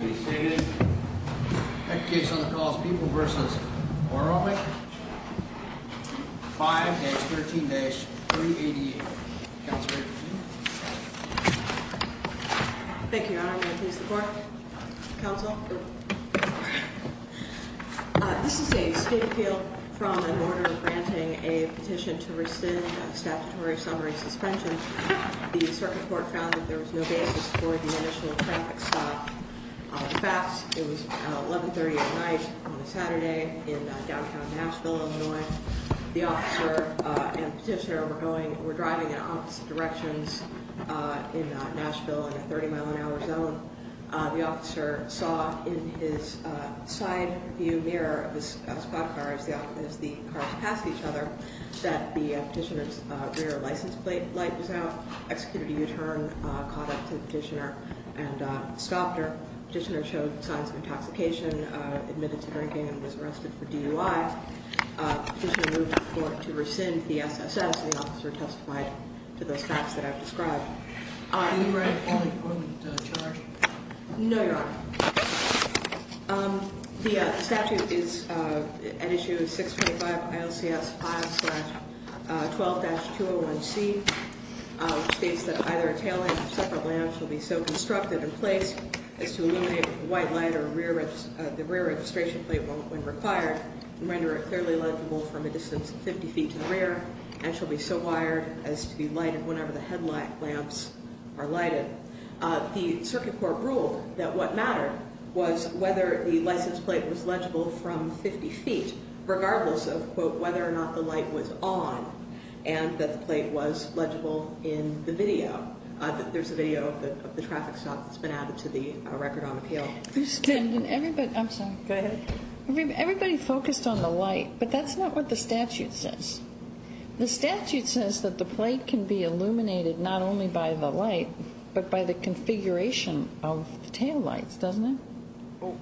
On the calls people v. Borowiak 5-13-388 Thank you Your Honor, I'm going to please the court. Counsel, this is a state appeal from the boarder granting a petition to restind statutory summary suspension. The circuit court found that there was no basis for the initial traffic stop. In fact, it was 1130 at night on a Saturday in downtown Nashville, Illinois. The officer and petitioner were driving in opposite directions in Nashville in a 30 mile an hour zone. The officer saw in his side view mirror of the spot cars as the cars passed each other that the petitioner's rear license plate light was out. Executed a U-turn, caught up to the petitioner and stopped her. Petitioner showed signs of intoxication, admitted to drinking and was arrested for DUI. Petitioner moved the court to rescind the SSS. The officer testified to those facts that I've described. Are you ready to call the appointment charge? No, Your Honor. The statute is at issue 625 ILCS 5-12-201C. It states that either a tail light or separate lamps will be so constructed and placed as to illuminate with a white light or the rear registration plate when required and render it clearly legible from a distance of 50 feet to the rear and shall be so wired as to be lighted whenever the headlight lamps are lighted. The circuit court ruled that what mattered was whether the license plate was legible from 50 feet regardless of, quote, whether or not the light was on and that the plate was legible in the video. There's a video of the traffic stop that's been added to the record on appeal. I'm sorry. Go ahead. Everybody focused on the light, but that's not what the statute says. The statute says that the plate can be illuminated not only by the light but by the configuration of the tail lights, doesn't it?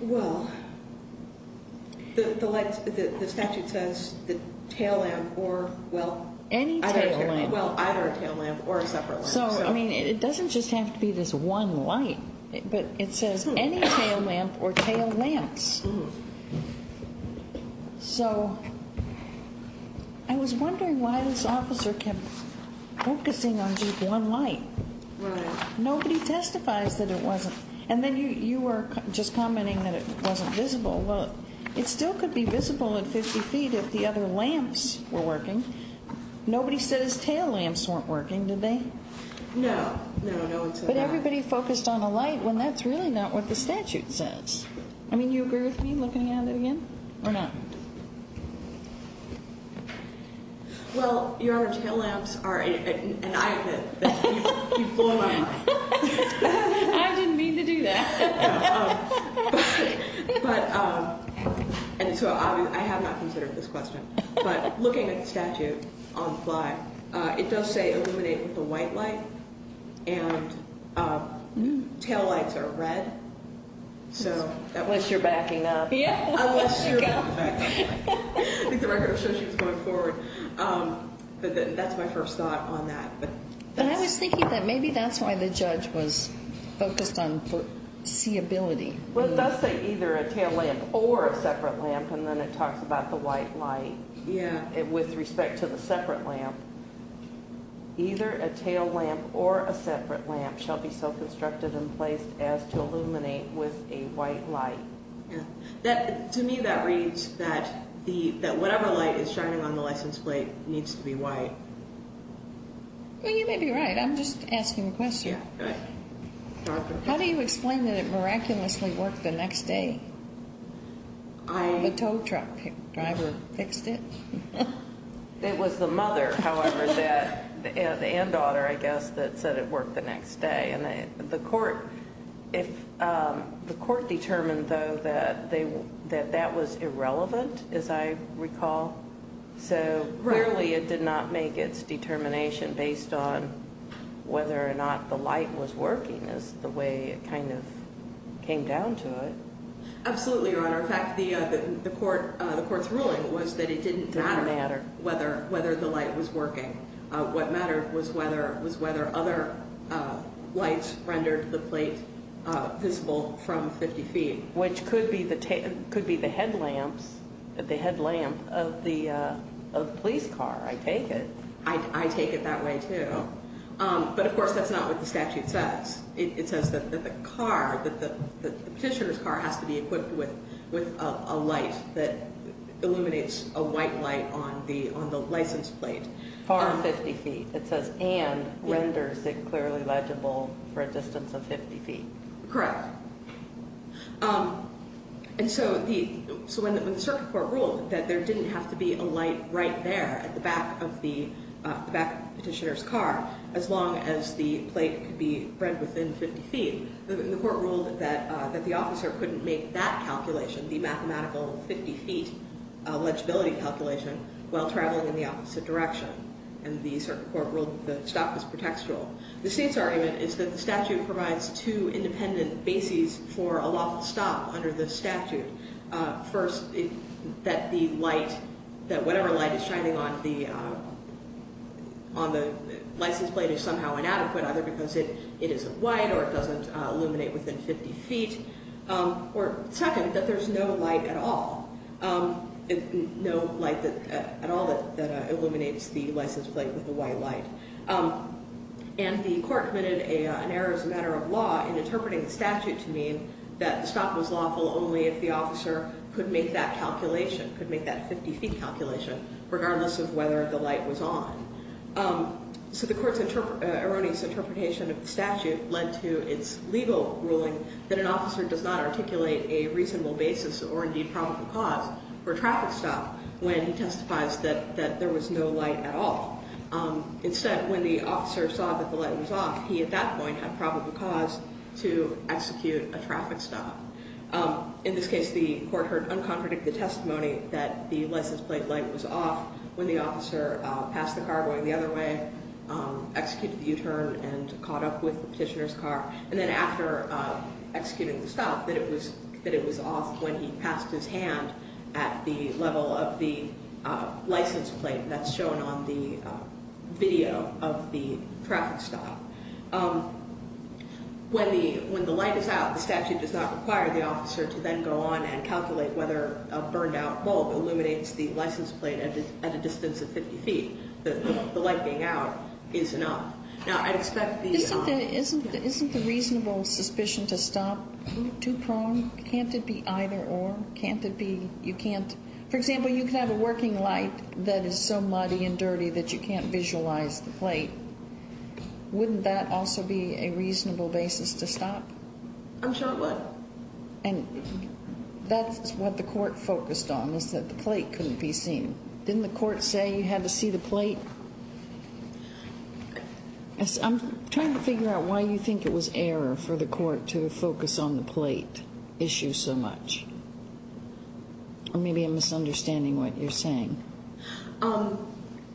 Well, the statute says the tail lamp or, well, either a tail lamp or a separate lamp. So, I mean, it doesn't just have to be this one light, but it says any tail lamp or tail So, I was wondering why this officer kept focusing on just one light. Right. Nobody testifies that it wasn't. And then you were just commenting that it wasn't visible. Well, it still could be visible at 50 feet if the other lamps were working. Nobody says tail lamps weren't working, did they? No. No, no one said that. But everybody focused on the light when that's really not what the statute says. I mean, do you agree with me looking at it again or not? Well, Your Honor, tail lamps are an iPad that you've blown my mind. I didn't mean to do that. And so I have not considered this question. But looking at the statute on the fly, it does say illuminate with a white light, and tail lights are red. Unless you're backing up. Yeah, unless you're backing up. I think the record shows she was going forward. But that's my first thought on that. But I was thinking that maybe that's why the judge was focused on seeability. Well, it does say either a tail lamp or a separate lamp, and then it talks about the white light. Yeah. With respect to the separate lamp. Either a tail lamp or a separate lamp shall be self-constructed in place as to illuminate with a white light. Yeah. To me, that reads that whatever light is shining on the license plate needs to be white. Well, you may be right. I'm just asking a question. Yeah, go ahead. How do you explain that it miraculously worked the next day? The tow truck driver fixed it. It was the mother, however, and daughter, I guess, that said it worked the next day. And the court determined, though, that that was irrelevant, as I recall. So, clearly, it did not make its determination based on whether or not the light was working is the way it kind of came down to it. Absolutely, Your Honor. In fact, the court's ruling was that it didn't matter whether the light was working. What mattered was whether other lights rendered the plate visible from 50 feet. Which could be the headlamps of the police car. I take it. I take it that way, too. But, of course, that's not what the statute says. It says that the car, the petitioner's car, has to be equipped with a light that illuminates a white light on the license plate. Far 50 feet. It says, and renders it clearly legible for a distance of 50 feet. Correct. And so when the circuit court ruled that there didn't have to be a light right there at the back of the petitioner's car, as long as the plate could be read within 50 feet, the court ruled that the officer couldn't make that calculation, the mathematical 50 feet legibility calculation, while traveling in the opposite direction. And the circuit court ruled that the stop was pretextual. The state's argument is that the statute provides two independent bases for a lawful stop under the statute. First, that the light, that whatever light is shining on the license plate is somehow inadequate, either because it isn't white or it doesn't illuminate within 50 feet. Or second, that there's no light at all. No light at all that illuminates the license plate with a white light. And the court committed an error as a matter of law in interpreting the statute to mean that the stop was lawful only if the officer could make that calculation, could make that 50 feet calculation, regardless of whether the light was on. So the court's erroneous interpretation of the statute led to its legal ruling that an officer does not articulate a reasonable basis or, indeed, probable cause for a traffic stop when he testifies that there was no light at all. Instead, when the officer saw that the light was off, he, at that point, had probable cause to execute a traffic stop. In this case, the court heard uncontradicted testimony that the license plate light was off when the officer passed the car going the other way, executed the U-turn, and caught up with the petitioner's car. And then after executing the stop, that it was off when he passed his hand at the level of the license plate that's shown on the video of the traffic stop. When the light is out, the statute does not require the officer to then go on and calculate whether a burned-out bulb illuminates the license plate at a distance of 50 feet. The light being out is enough. Now, I'd expect these are... Isn't the reasonable suspicion to stop too prone? Can't it be either-or? Can't it be you can't... For example, you can have a working light that is so muddy and dirty that you can't visualize the plate. Wouldn't that also be a reasonable basis to stop? I'm sure it would. And that's what the court focused on, is that the plate couldn't be seen. I'm trying to figure out why you think it was error for the court to focus on the plate issue so much. Or maybe I'm misunderstanding what you're saying.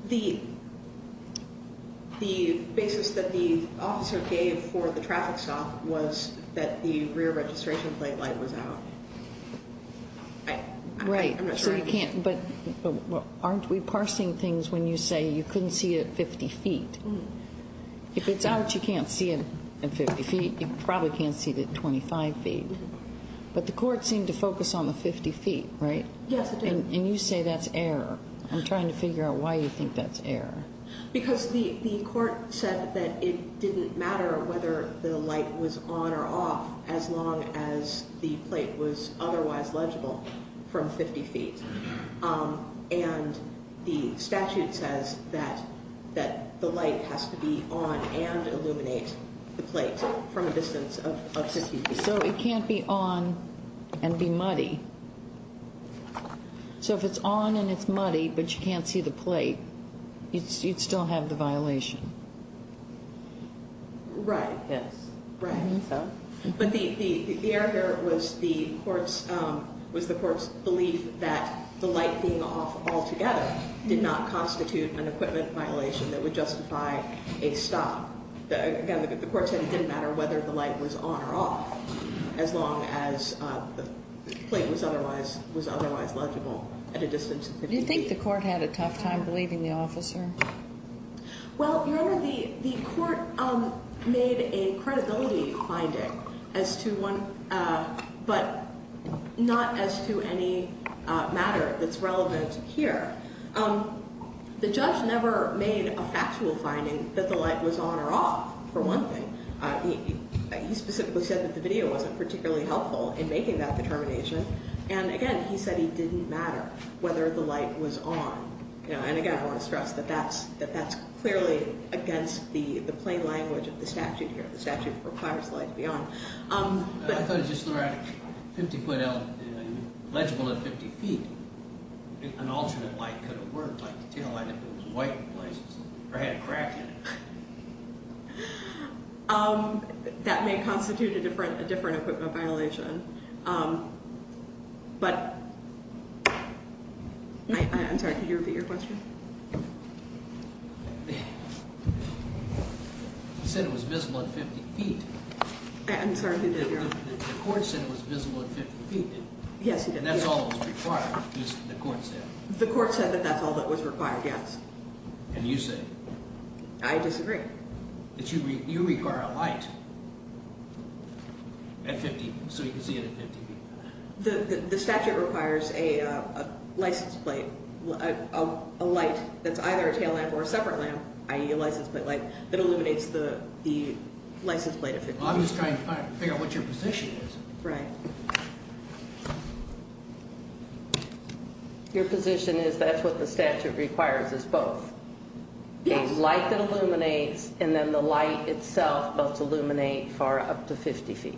The basis that the officer gave for the traffic stop was that the rear registration plate light was out. Right. But aren't we parsing things when you say you couldn't see it at 50 feet? If it's out, you can't see it at 50 feet. You probably can't see it at 25 feet. But the court seemed to focus on the 50 feet, right? Yes, it did. And you say that's error. I'm trying to figure out why you think that's error. Because the court said that it didn't matter whether the light was on or off as long as the plate was otherwise legible from 50 feet. And the statute says that the light has to be on and illuminate the plate from a distance of 50 feet. So it can't be on and be muddy. So if it's on and it's muddy but you can't see the plate, you'd still have the violation. Right. Yes. Right. But the error here was the court's belief that the light being off altogether did not constitute an equipment violation that would justify a stop. Again, the court said it didn't matter whether the light was on or off as long as the plate was otherwise legible at a distance of 50 feet. Do you think the court had a tough time believing the officer? Well, Your Honor, the court made a credibility finding but not as to any matter that's relevant here. The judge never made a factual finding that the light was on or off, for one thing. He specifically said that the video wasn't particularly helpful in making that determination. And, again, he said he didn't matter whether the light was on. And, again, I want to stress that that's clearly against the plain language of the statute here. The statute requires the light to be on. I thought it was just the right 50-foot element, legible at 50 feet. An alternate light could have worked like the tail light if it was white in places or had a crack in it. That may constitute a different equipment violation. But I'm sorry. Could you repeat your question? He said it was visible at 50 feet. I'm sorry, who did, Your Honor? The court said it was visible at 50 feet. Yes, he did. And that's all that was required, the court said. The court said that that's all that was required, yes. And you said? I disagree. That you require a light at 50, so you can see it at 50 feet. The statute requires a license plate, a light that's either a tail lamp or a separate lamp, i.e. a license plate light, that illuminates the license plate at 50 feet. Well, I'm just trying to figure out what your position is. Right. Your position is that's what the statute requires is both. Yes. A light that illuminates and then the light itself must illuminate for up to 50 feet.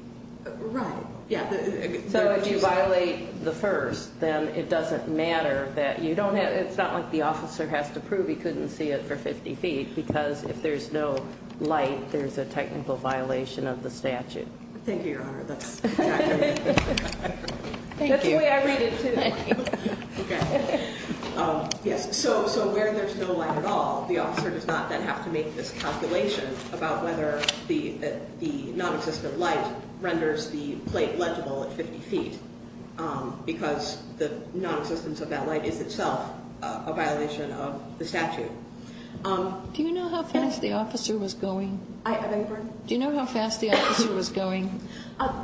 Right. So if you violate the first, then it doesn't matter that you don't have, it's not like the officer has to prove he couldn't see it for 50 feet because if there's no light, there's a technical violation of the statute. Thank you, Your Honor. That's exactly right. Thank you. That's the way I read it, too. Thank you. Okay. Yes. So where there's no light at all, the officer does not then have to make this calculation about whether the nonexistent light renders the plate legible at 50 feet because the nonexistence of that light is itself a violation of the statute. Do you know how fast the officer was going? I beg your pardon? Do you know how fast the officer was going?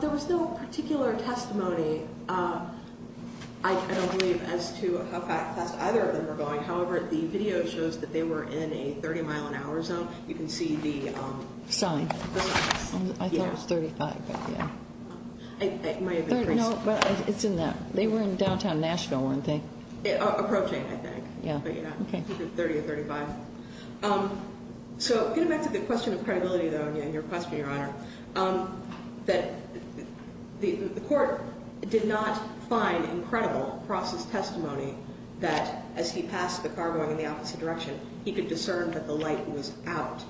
There was no particular testimony, I don't believe, as to how fast either of them were going. However, the video shows that they were in a 30-mile-an-hour zone. You can see the ‑‑ Sign. The sign. I thought it was 35, but, yeah. It may have increased. No, but it's in that. They were in downtown Nashville, weren't they? Approaching, I think. Yeah. But, yeah. Okay. Between 30 and 35. So getting back to the question of credibility, though, and your question, Your Honor, that the court did not find incredible Cross's testimony that as he passed the car going in the opposite direction, he could discern that the light was out.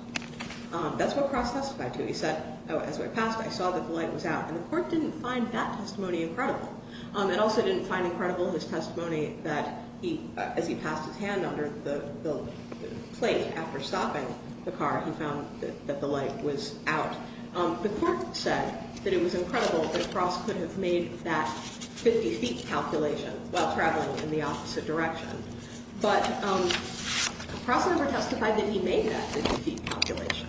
That's what Cross testified to. He said, as I passed, I saw that the light was out. And the court didn't find that testimony incredible. It also didn't find incredible in his testimony that as he passed his hand under the plate after stopping the car, he found that the light was out. The court said that it was incredible that Cross could have made that 50 feet calculation while traveling in the opposite direction. But Cross never testified that he made that 50 feet calculation.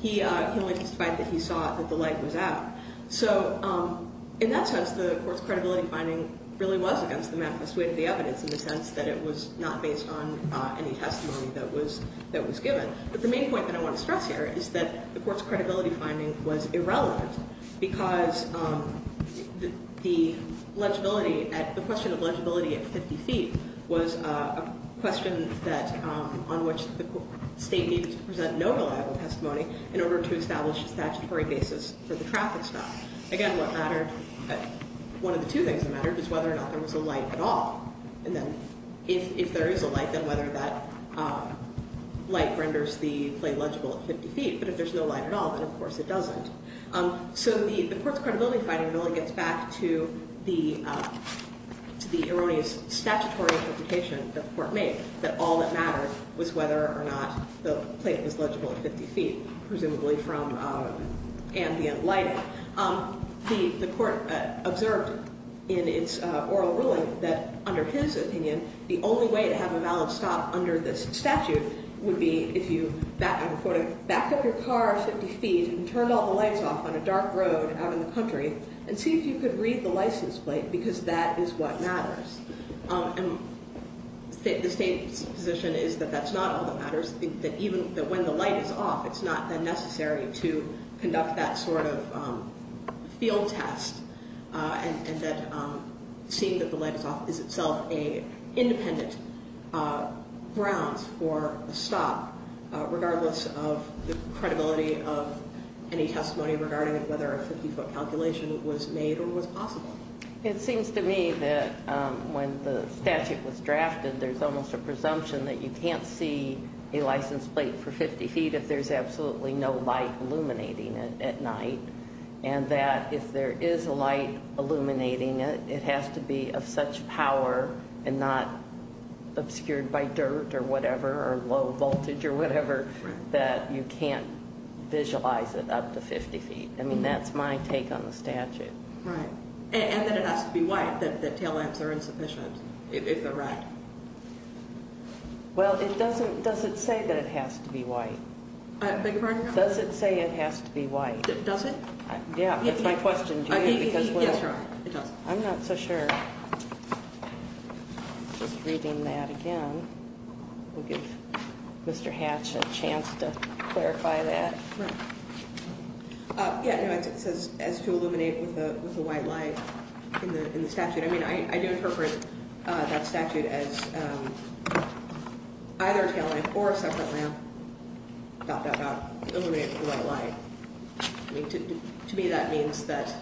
He only testified that he saw that the light was out. So in that sense, the court's credibility finding really was against the manifest way of the evidence in the sense that it was not based on any testimony that was given. But the main point that I want to stress here is that the court's credibility finding was irrelevant because the question of legibility at 50 feet was a question on which the state needed to present no reliable testimony in order to establish a statutory basis for the traffic story. Again, one of the two things that mattered was whether or not there was a light at all. And then if there is a light, then whether that light renders the plate legible at 50 feet. But if there's no light at all, then of course it doesn't. So the court's credibility finding really gets back to the erroneous statutory interpretation that the court made, that all that mattered was whether or not the plate was legible at 50 feet, presumably from ambient lighting. The court observed in its oral ruling that under his opinion, the only way to have a valid stop under this statute would be if you backed up your car 50 feet and turned all the lights off on a dark road out in the country and see if you could read the license plate because that is what matters. And the state's position is that that's not all that matters, that even when the light is off, it's not necessary to conduct that sort of field test and that seeing that the light is off is itself an independent grounds for a stop, regardless of the credibility of any testimony regarding whether a 50-foot calculation was made or was possible. It seems to me that when the statute was drafted, there's almost a presumption that you can't see a license plate for 50 feet if there's absolutely no light illuminating it at night, and that if there is a light illuminating it, it has to be of such power and not obscured by dirt or whatever or low voltage or whatever that you can't visualize it up to 50 feet. I mean, that's my take on the statute. Right. And that it has to be white, that the tail lamps are insufficient, if they're right. Well, it doesn't, does it say that it has to be white? I beg your pardon? Does it say it has to be white? Does it? Yeah, that's my question. Yes, Your Honor, it does. I'm not so sure. Just reading that again. We'll give Mr. Hatch a chance to clarify that. Right. Yeah, it says to illuminate with a white light in the statute. I mean, I do interpret that statute as either a tail lamp or a separate lamp, dot, dot, dot, illuminate with a white light. To me, that means that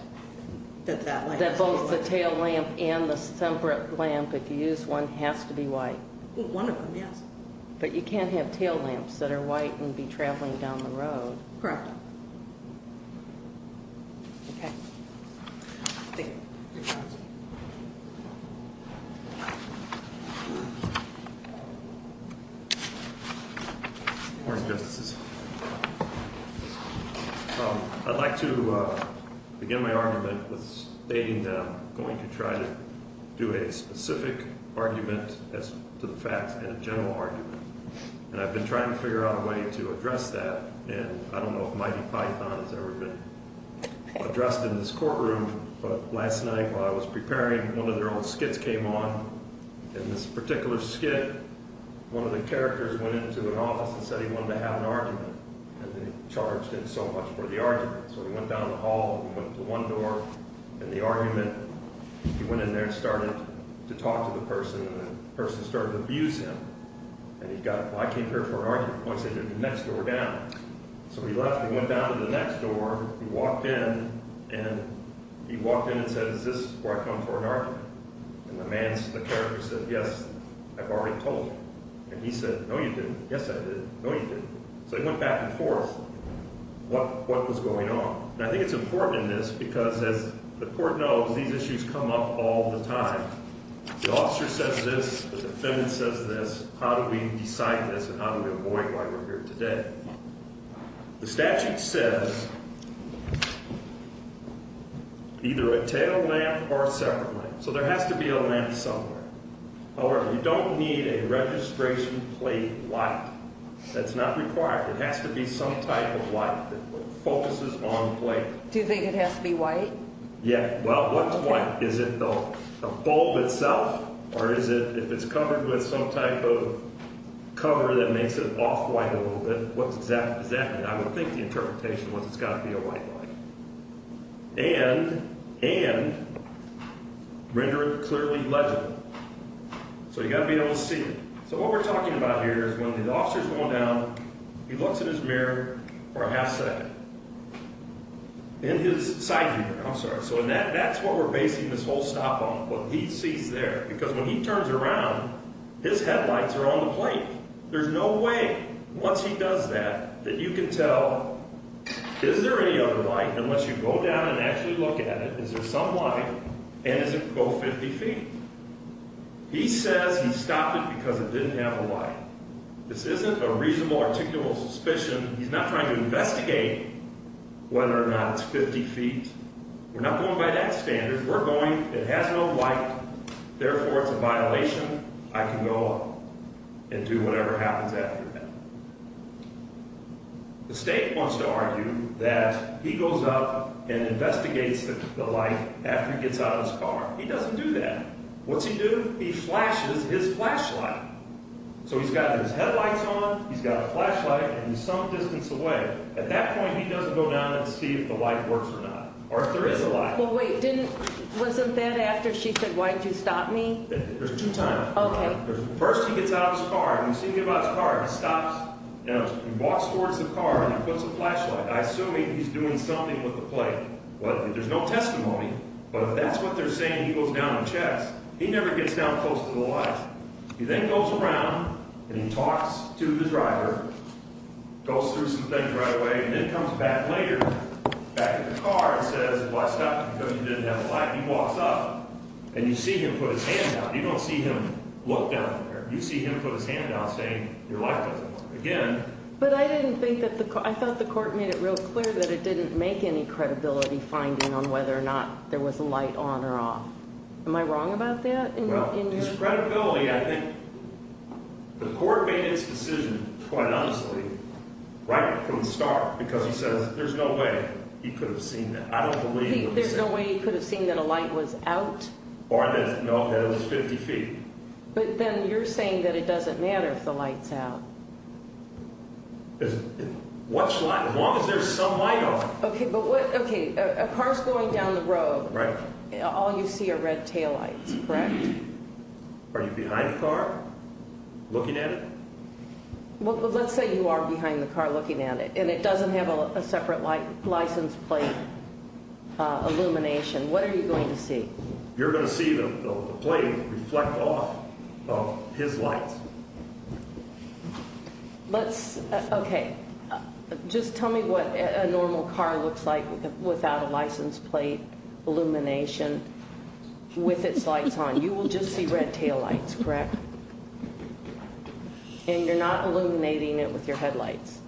that light has to be white. That both the tail lamp and the separate lamp, if you use one, has to be white. One of them, yes. But you can't have tail lamps that are white and be traveling down the road. Correct. Okay. Thank you. You're welcome. Morning, Justices. I'd like to begin my argument with stating that I'm going to try to do a specific argument as to the facts and a general argument. And I've been trying to figure out a way to address that. And I don't know if Mighty Python has ever been addressed in this courtroom. But last night while I was preparing, one of their old skits came on. In this particular skit, one of the characters went into an office and said he wanted to have an argument. And they charged him so much for the argument. So he went down the hall and went to one door. And the argument, he went in there and started to talk to the person. And the person started to abuse him. And he got, well, I came here for an argument. Why don't you take the next door down? So he left and went down to the next door. He walked in. And he walked in and said, is this where I come for an argument? And the man, the character said, yes, I've already told you. And he said, no, you didn't. Yes, I did. No, you didn't. So they went back and forth what was going on. And I think it's important in this because, as the court knows, these issues come up all the time. The officer says this. The defendant says this. How do we decide this and how do we avoid why we're here today? The statute says either a tail lamp or a separate lamp. So there has to be a lamp somewhere. However, you don't need a registration plate light. That's not required. It has to be some type of light that focuses on the plate. Do you think it has to be white? Yeah. Well, what's white? Is it the bulb itself or is it if it's covered with some type of cover that makes it off-white a little bit? What does that mean? I would think the interpretation was it's got to be a white light. And render it clearly legible. So you've got to be able to see it. So what we're talking about here is when the officer is going down, he looks in his mirror for a half second. In his side view mirror. I'm sorry. So that's what we're basing this whole stop on, what he sees there. Because when he turns around, his headlights are on the plate. There's no way once he does that that you can tell is there any other light unless you go down and actually look at it. Is there some light? And does it go 50 feet? He says he stopped it because it didn't have a light. This isn't a reasonable articulable suspicion. He's not trying to investigate whether or not it's 50 feet. We're not going by that standard. We're going. It has no light. Therefore, it's a violation. I can go up and do whatever happens after that. The state wants to argue that he goes up and investigates the light after he gets out of his car. He doesn't do that. What's he do? He flashes his flashlight. So he's got his headlights on. He's got a flashlight. And he's some distance away. At that point, he doesn't go down and see if the light works or not or if there is a light. Well, wait. Wasn't that after she said, why did you stop me? There's two times. Okay. First, he gets out of his car. You see him get out of his car. He stops. He walks towards the car and he puts a flashlight. I assume he's doing something with the plate. There's no testimony. But if that's what they're saying, he goes down and checks. He never gets down close to the light. He then goes around and he talks to the driver, goes through some things right away, and then comes back later, back to the car and says, well, I stopped because you didn't have a light. He walks up and you see him put his hand down. You don't see him look down from there. You see him put his hand down saying, your light doesn't work. Again. But I didn't think that the court – I thought the court made it real clear that it didn't make any credibility finding on whether or not there was a light on or off. Am I wrong about that? Well, his credibility, I think – the court made its decision quite honestly right from the start because he says there's no way he could have seen that. I don't believe what he said. There's no way he could have seen that a light was out? Or that it was 50 feet. But then you're saying that it doesn't matter if the light's out. As long as there's some light on. Okay, but what – okay, a car's going down the road. Right. All you see are red taillights, correct? Are you behind the car looking at it? Well, let's say you are behind the car looking at it and it doesn't have a separate license plate illumination. What are you going to see? You're going to see the plate reflect off of his lights. Let's – okay. Just tell me what a normal car looks like without a license plate illumination with its lights on. You will just see red taillights, correct? And you're not illuminating it with your headlights?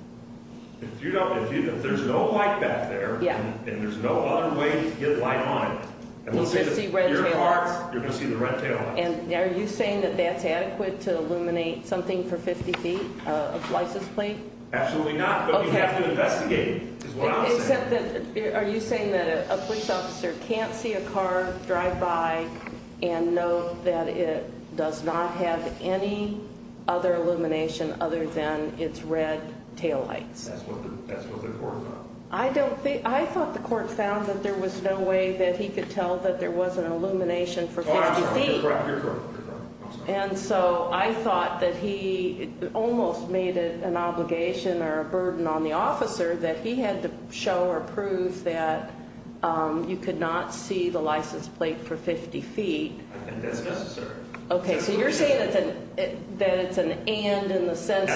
If you don't – if there's no light back there and there's no other way to get light on, you're going to see the red taillights. And are you saying that that's adequate to illuminate something for 50 feet, a license plate? Absolutely not. But you'd have to investigate, is what I'm saying. Except that – are you saying that a police officer can't see a car drive by and know that it does not have any other illumination other than its red taillights? That's what the court found. I don't think – I thought the court found that there was no way that he could tell that there was an illumination for 50 feet. You're correct. And so I thought that he almost made it an obligation or a burden on the officer that he had to show or prove that you could not see the license plate for 50 feet. I think that's necessary. Okay, so you're saying that it's an and in the sense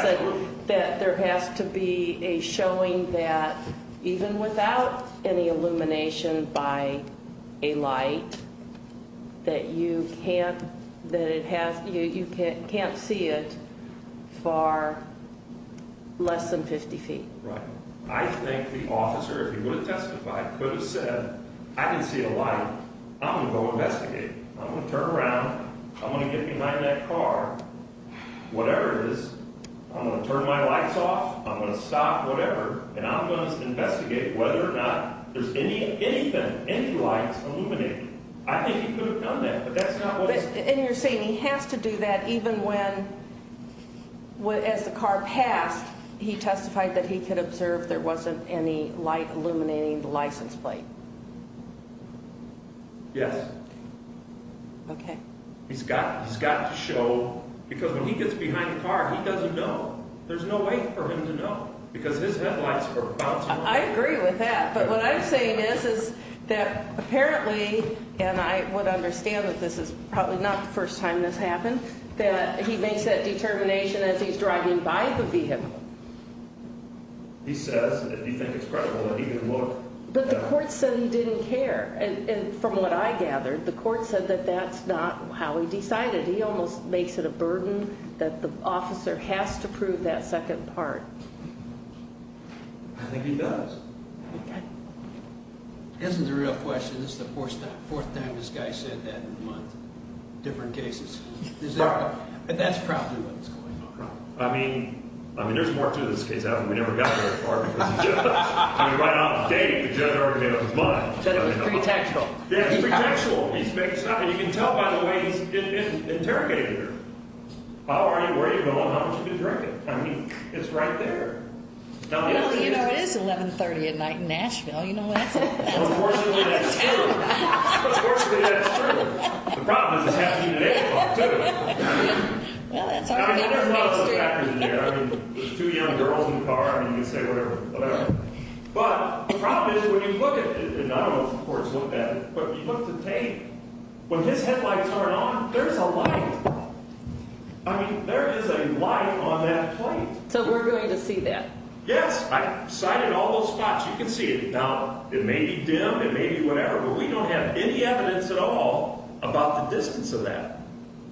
that there has to be a showing that even without any illumination by a light, that you can't – that it has – you can't see it for less than 50 feet. Right. I think the officer, if he would have testified, could have said, I can see a light. I'm going to go investigate. I'm going to turn around. I'm going to get behind that car, whatever it is. I'm going to turn my lights off. I'm going to stop, whatever, and I'm going to investigate whether or not there's any – even any lights illuminating. I think he could have done that, but that's not what's – And you're saying he has to do that even when – as the car passed, he testified that he could observe there wasn't any light illuminating the license plate. Yes. Okay. He's got to show because when he gets behind the car, he doesn't know. There's no way for him to know because his headlights were bouncing. I agree with that, but what I'm saying is, is that apparently, and I would understand that this is probably not the first time this happened, that he makes that determination as he's driving by the vehicle. He says, if you think it's credible, that he can look. But the court said he didn't care, and from what I gathered, the court said that that's not how he decided. He almost makes it a burden that the officer has to prove that second part. I think he does. Okay. This is a real question. This is the fourth time this guy said that in a month, different cases. That's probably what's going on. I mean, there's more to this case. We never got very far because of Judge. I mean, right off the date, the judge already made up his mind. Judge was pretextual. Yes, pretextual. He's making stuff, and you can tell by the way he's interrogating her. How are you? Where are you going? How much have you been drinking? I mean, it's right there. Well, you know, it is 1130 at night in Nashville. You know what I'm saying? Well, unfortunately, that's true. Unfortunately, that's true. The problem is it's happening in April, too. Well, that's all right. I mean, there's two young girls in the car. I mean, you can say whatever. Whatever. But the problem is when you look at it, and I don't know if the courts look at it, but you look at the tape. When his headlights aren't on, there's a light. I mean, there is a light on that plate. So we're going to see that. Yes. I sighted all those spots. You can see it. Now, it may be dim, it may be whatever, but we don't have any evidence at all about the distance of that.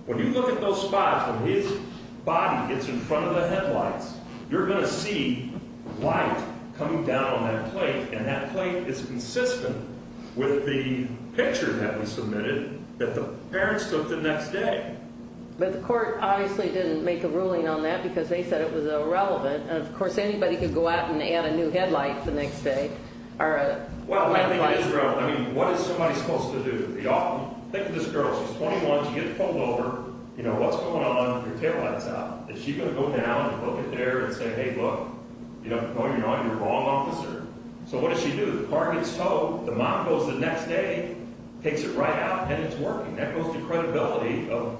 When you look at those spots, when his body gets in front of the headlights, you're going to see light coming down on that plate, and that plate is consistent with the picture that we submitted that the parents took the next day. But the court obviously didn't make a ruling on that because they said it was irrelevant, and, of course, anybody could go out and add a new headlight the next day. Well, I think it is relevant. I mean, what is somebody supposed to do? Think of this girl. She's 21. She gets pulled over. You know, what's going on? Her taillight's out. Is she going to go down and look at there and say, hey, look, no, you're not. You're the wrong officer. So what does she do? The car gets towed. The mom goes the next day, takes it right out, and it's working. That goes to credibility of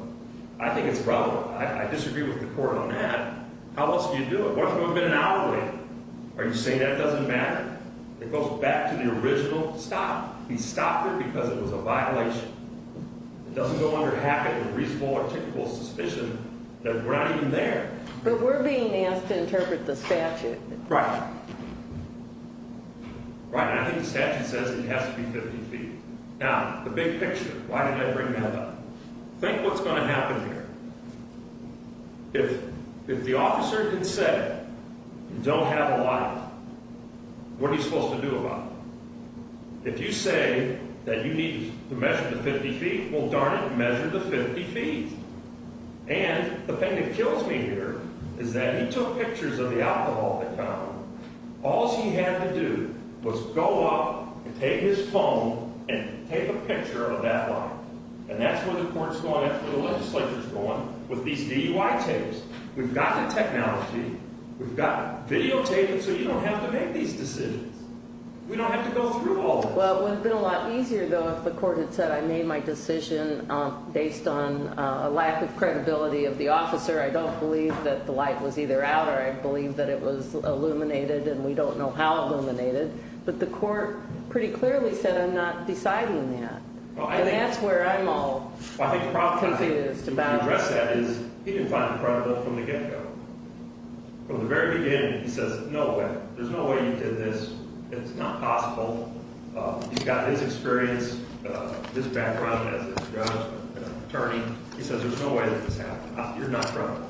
I think it's relevant. I disagree with the court on that. How else do you do it? What if it would have been an hour later? Are you saying that doesn't matter? It goes back to the original stop. We stopped it because it was a violation. It doesn't no longer happen with reasonable or typical suspicion that we're not even there. But we're being asked to interpret the statute. Right. Right, and I think the statute says it has to be 50 feet. Now, the big picture, why did I bring that up? Think what's going to happen here. If the officer did say you don't have a lot, what are you supposed to do about it? If you say that you need to measure the 50 feet, well, darn it, measure the 50 feet. And the thing that kills me here is that he took pictures of the alcohol that came out. All he had to do was go up and take his phone and take a picture of that line. And that's where the court's going. That's where the legislature's going with these DUI tapes. We've got the technology. We've got videotaping so you don't have to make these decisions. We don't have to go through all this. Well, it would have been a lot easier, though, if the court had said, I made my decision based on a lack of credibility of the officer. I don't believe that the light was either out or I believe that it was illuminated, and we don't know how illuminated. But the court pretty clearly said I'm not deciding that. And that's where I'm all confused about. I think the problem with how he addressed that is he didn't find it credible from the get-go. From the very beginning, he says, no way. There's no way you did this. It's not possible. You've got his experience, his background as an attorney. He says there's no way that this happened. You're not credible.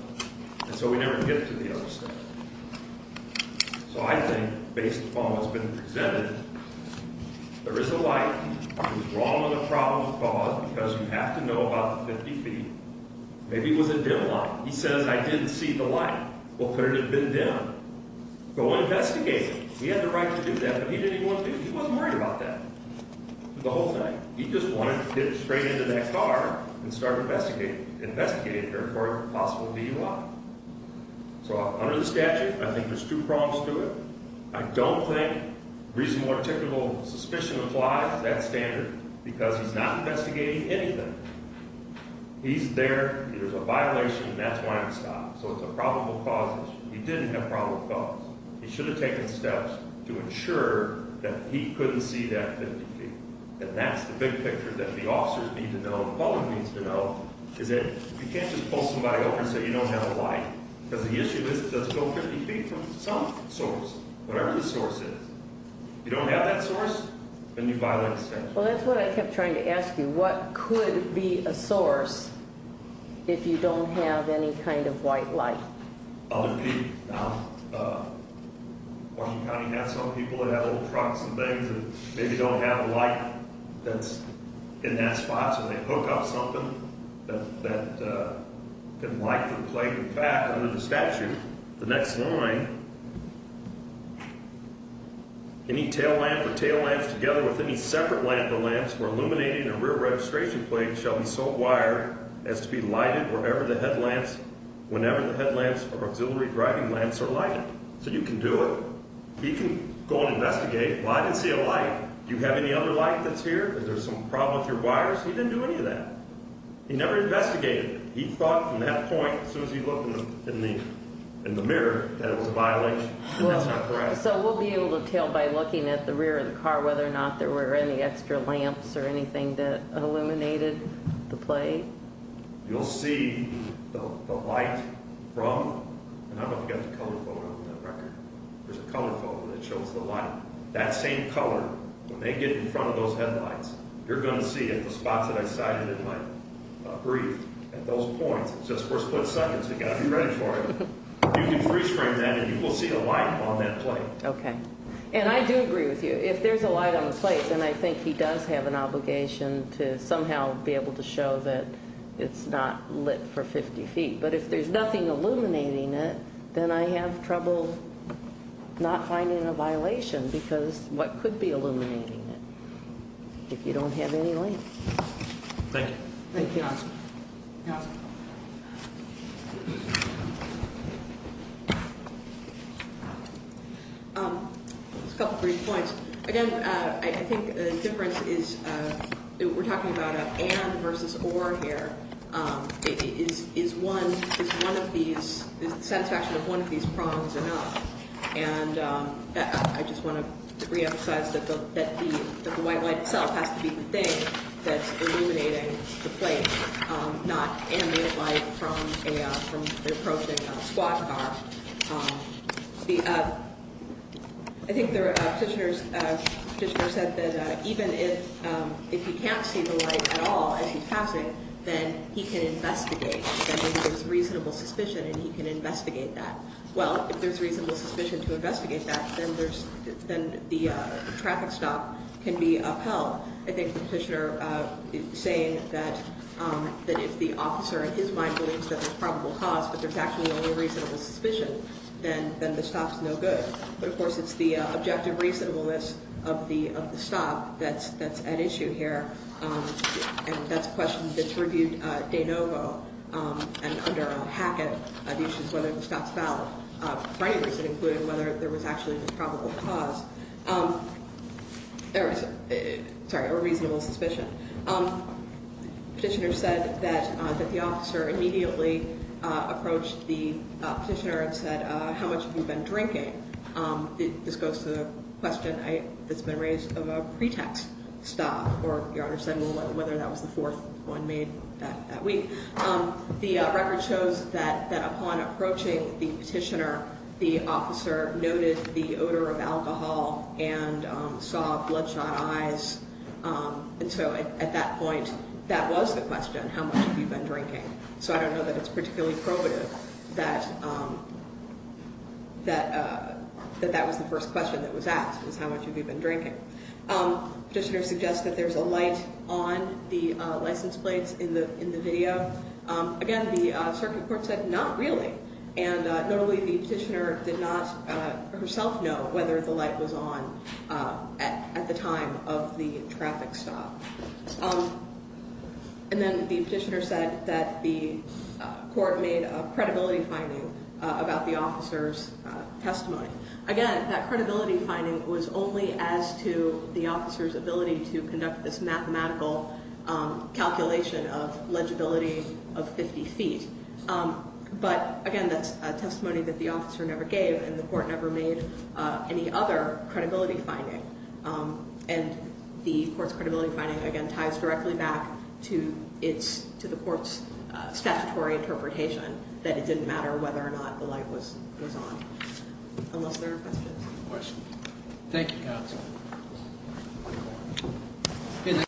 And so we never get to the other stuff. So I think, based upon what's been presented, there is a light. He was wrong on the problem of cause because you have to know about the 50 feet. Maybe it was a dim light. He says I didn't see the light. Well, could it have been dim? Go investigate it. He had the right to do that, but he didn't even want to do it. He wasn't worried about that for the whole thing. He just wanted to get straight into that car and start investigating it. Investigate it for a possible DUI. So under the statute, I think there's two problems to it. I don't think reasonable or typical suspicion applies to that standard because he's not investigating anything. He's there. There's a violation, and that's why I'm stopped. So it's a probable cause issue. He didn't have probable cause. He should have taken steps to ensure that he couldn't see that 50 feet. And that's the big picture that the officers need to know, the public needs to know, is that you can't just pull somebody over and say you don't have a light because the issue is it doesn't go 50 feet from some source, whatever the source is. If you don't have that source, then you violate the statute. Well, that's what I kept trying to ask you. What could be a source if you don't have any kind of white light? I'll repeat now. Washington County has some people that have old trucks and things that maybe don't have a light that's in that spot, so they hook up something that can light the plate in the back under the statute. The next line, any tail lamp or tail lamps together with any separate lamp or lamps for illuminating a rear registration plate shall be so wired as to be lighted whenever the headlamps or auxiliary driving lamps are lighted. So you can do it. He can go and investigate, well, I didn't see a light. Do you have any other light that's here? Is there some problem with your wires? He didn't do any of that. He never investigated it. He thought from that point, as soon as he looked in the mirror, that it was a violation, and that's not correct. So we'll be able to tell by looking at the rear of the car whether or not there were any extra lamps or anything that illuminated the plate? You'll see the light from, and I don't have the color photo on that record. There's a color photo that shows the light. That same color, when they get in front of those headlights, you're going to see it, the spots that I cited in my brief, at those points. It's just for a split second, so you've got to be ready for it. You can freeze frame that, and you will see a light on that plate. Okay. And I do agree with you. If there's a light on the plate, then I think he does have an obligation to somehow be able to show that it's not lit for 50 feet. But if there's nothing illuminating it, then I have trouble not finding a violation because what could be illuminating it if you don't have any lamps? Thank you. Thank you. Council. A couple brief points. Again, I think the difference is we're talking about an and versus or here. Is one of these, is the satisfaction of one of these prongs enough? And I just want to reemphasize that the white light itself has to be the thing that's illuminating the plate, not animated light from an approaching squad car. I think the petitioner said that even if he can't see the light at all as he's passing, then he can investigate. Then there's reasonable suspicion, and he can investigate that. Well, if there's reasonable suspicion to investigate that, then the traffic stop can be upheld. I think the petitioner is saying that if the officer, in his mind, believes that there's probable cause but there's actually only reasonable suspicion, then the stop's no good. But, of course, it's the objective reasonableness of the stop that's at issue here, and that's a question that's reviewed de novo and under a packet of issues, whether the stop's valid for any reason, including whether there was actually a probable cause. There was a reasonable suspicion. The petitioner said that the officer immediately approached the petitioner and said, How much have you been drinking? This goes to the question that's been raised of a pretext stop, or your Honor said whether that was the fourth one made that week. The record shows that upon approaching the petitioner, the officer noted the odor of alcohol and saw bloodshot eyes. And so at that point, that was the question, How much have you been drinking? So I don't know that it's particularly probative that that was the first question that was asked, was How much have you been drinking? The petitioner suggested there's a light on the license plates in the video. Again, the circuit court said, Not really. And notably, the petitioner did not herself know whether the light was on at the time of the traffic stop. And then the petitioner said that the court made a credibility finding about the officer's testimony. Again, that credibility finding was only as to the officer's ability to conduct this mathematical calculation of legibility of 50 feet. But again, that's a testimony that the officer never gave, and the court never made any other credibility finding. And the court's credibility finding, again, ties directly back to the court's statutory interpretation that it didn't matter whether or not the light was on, unless there are questions. Thank you, counsel.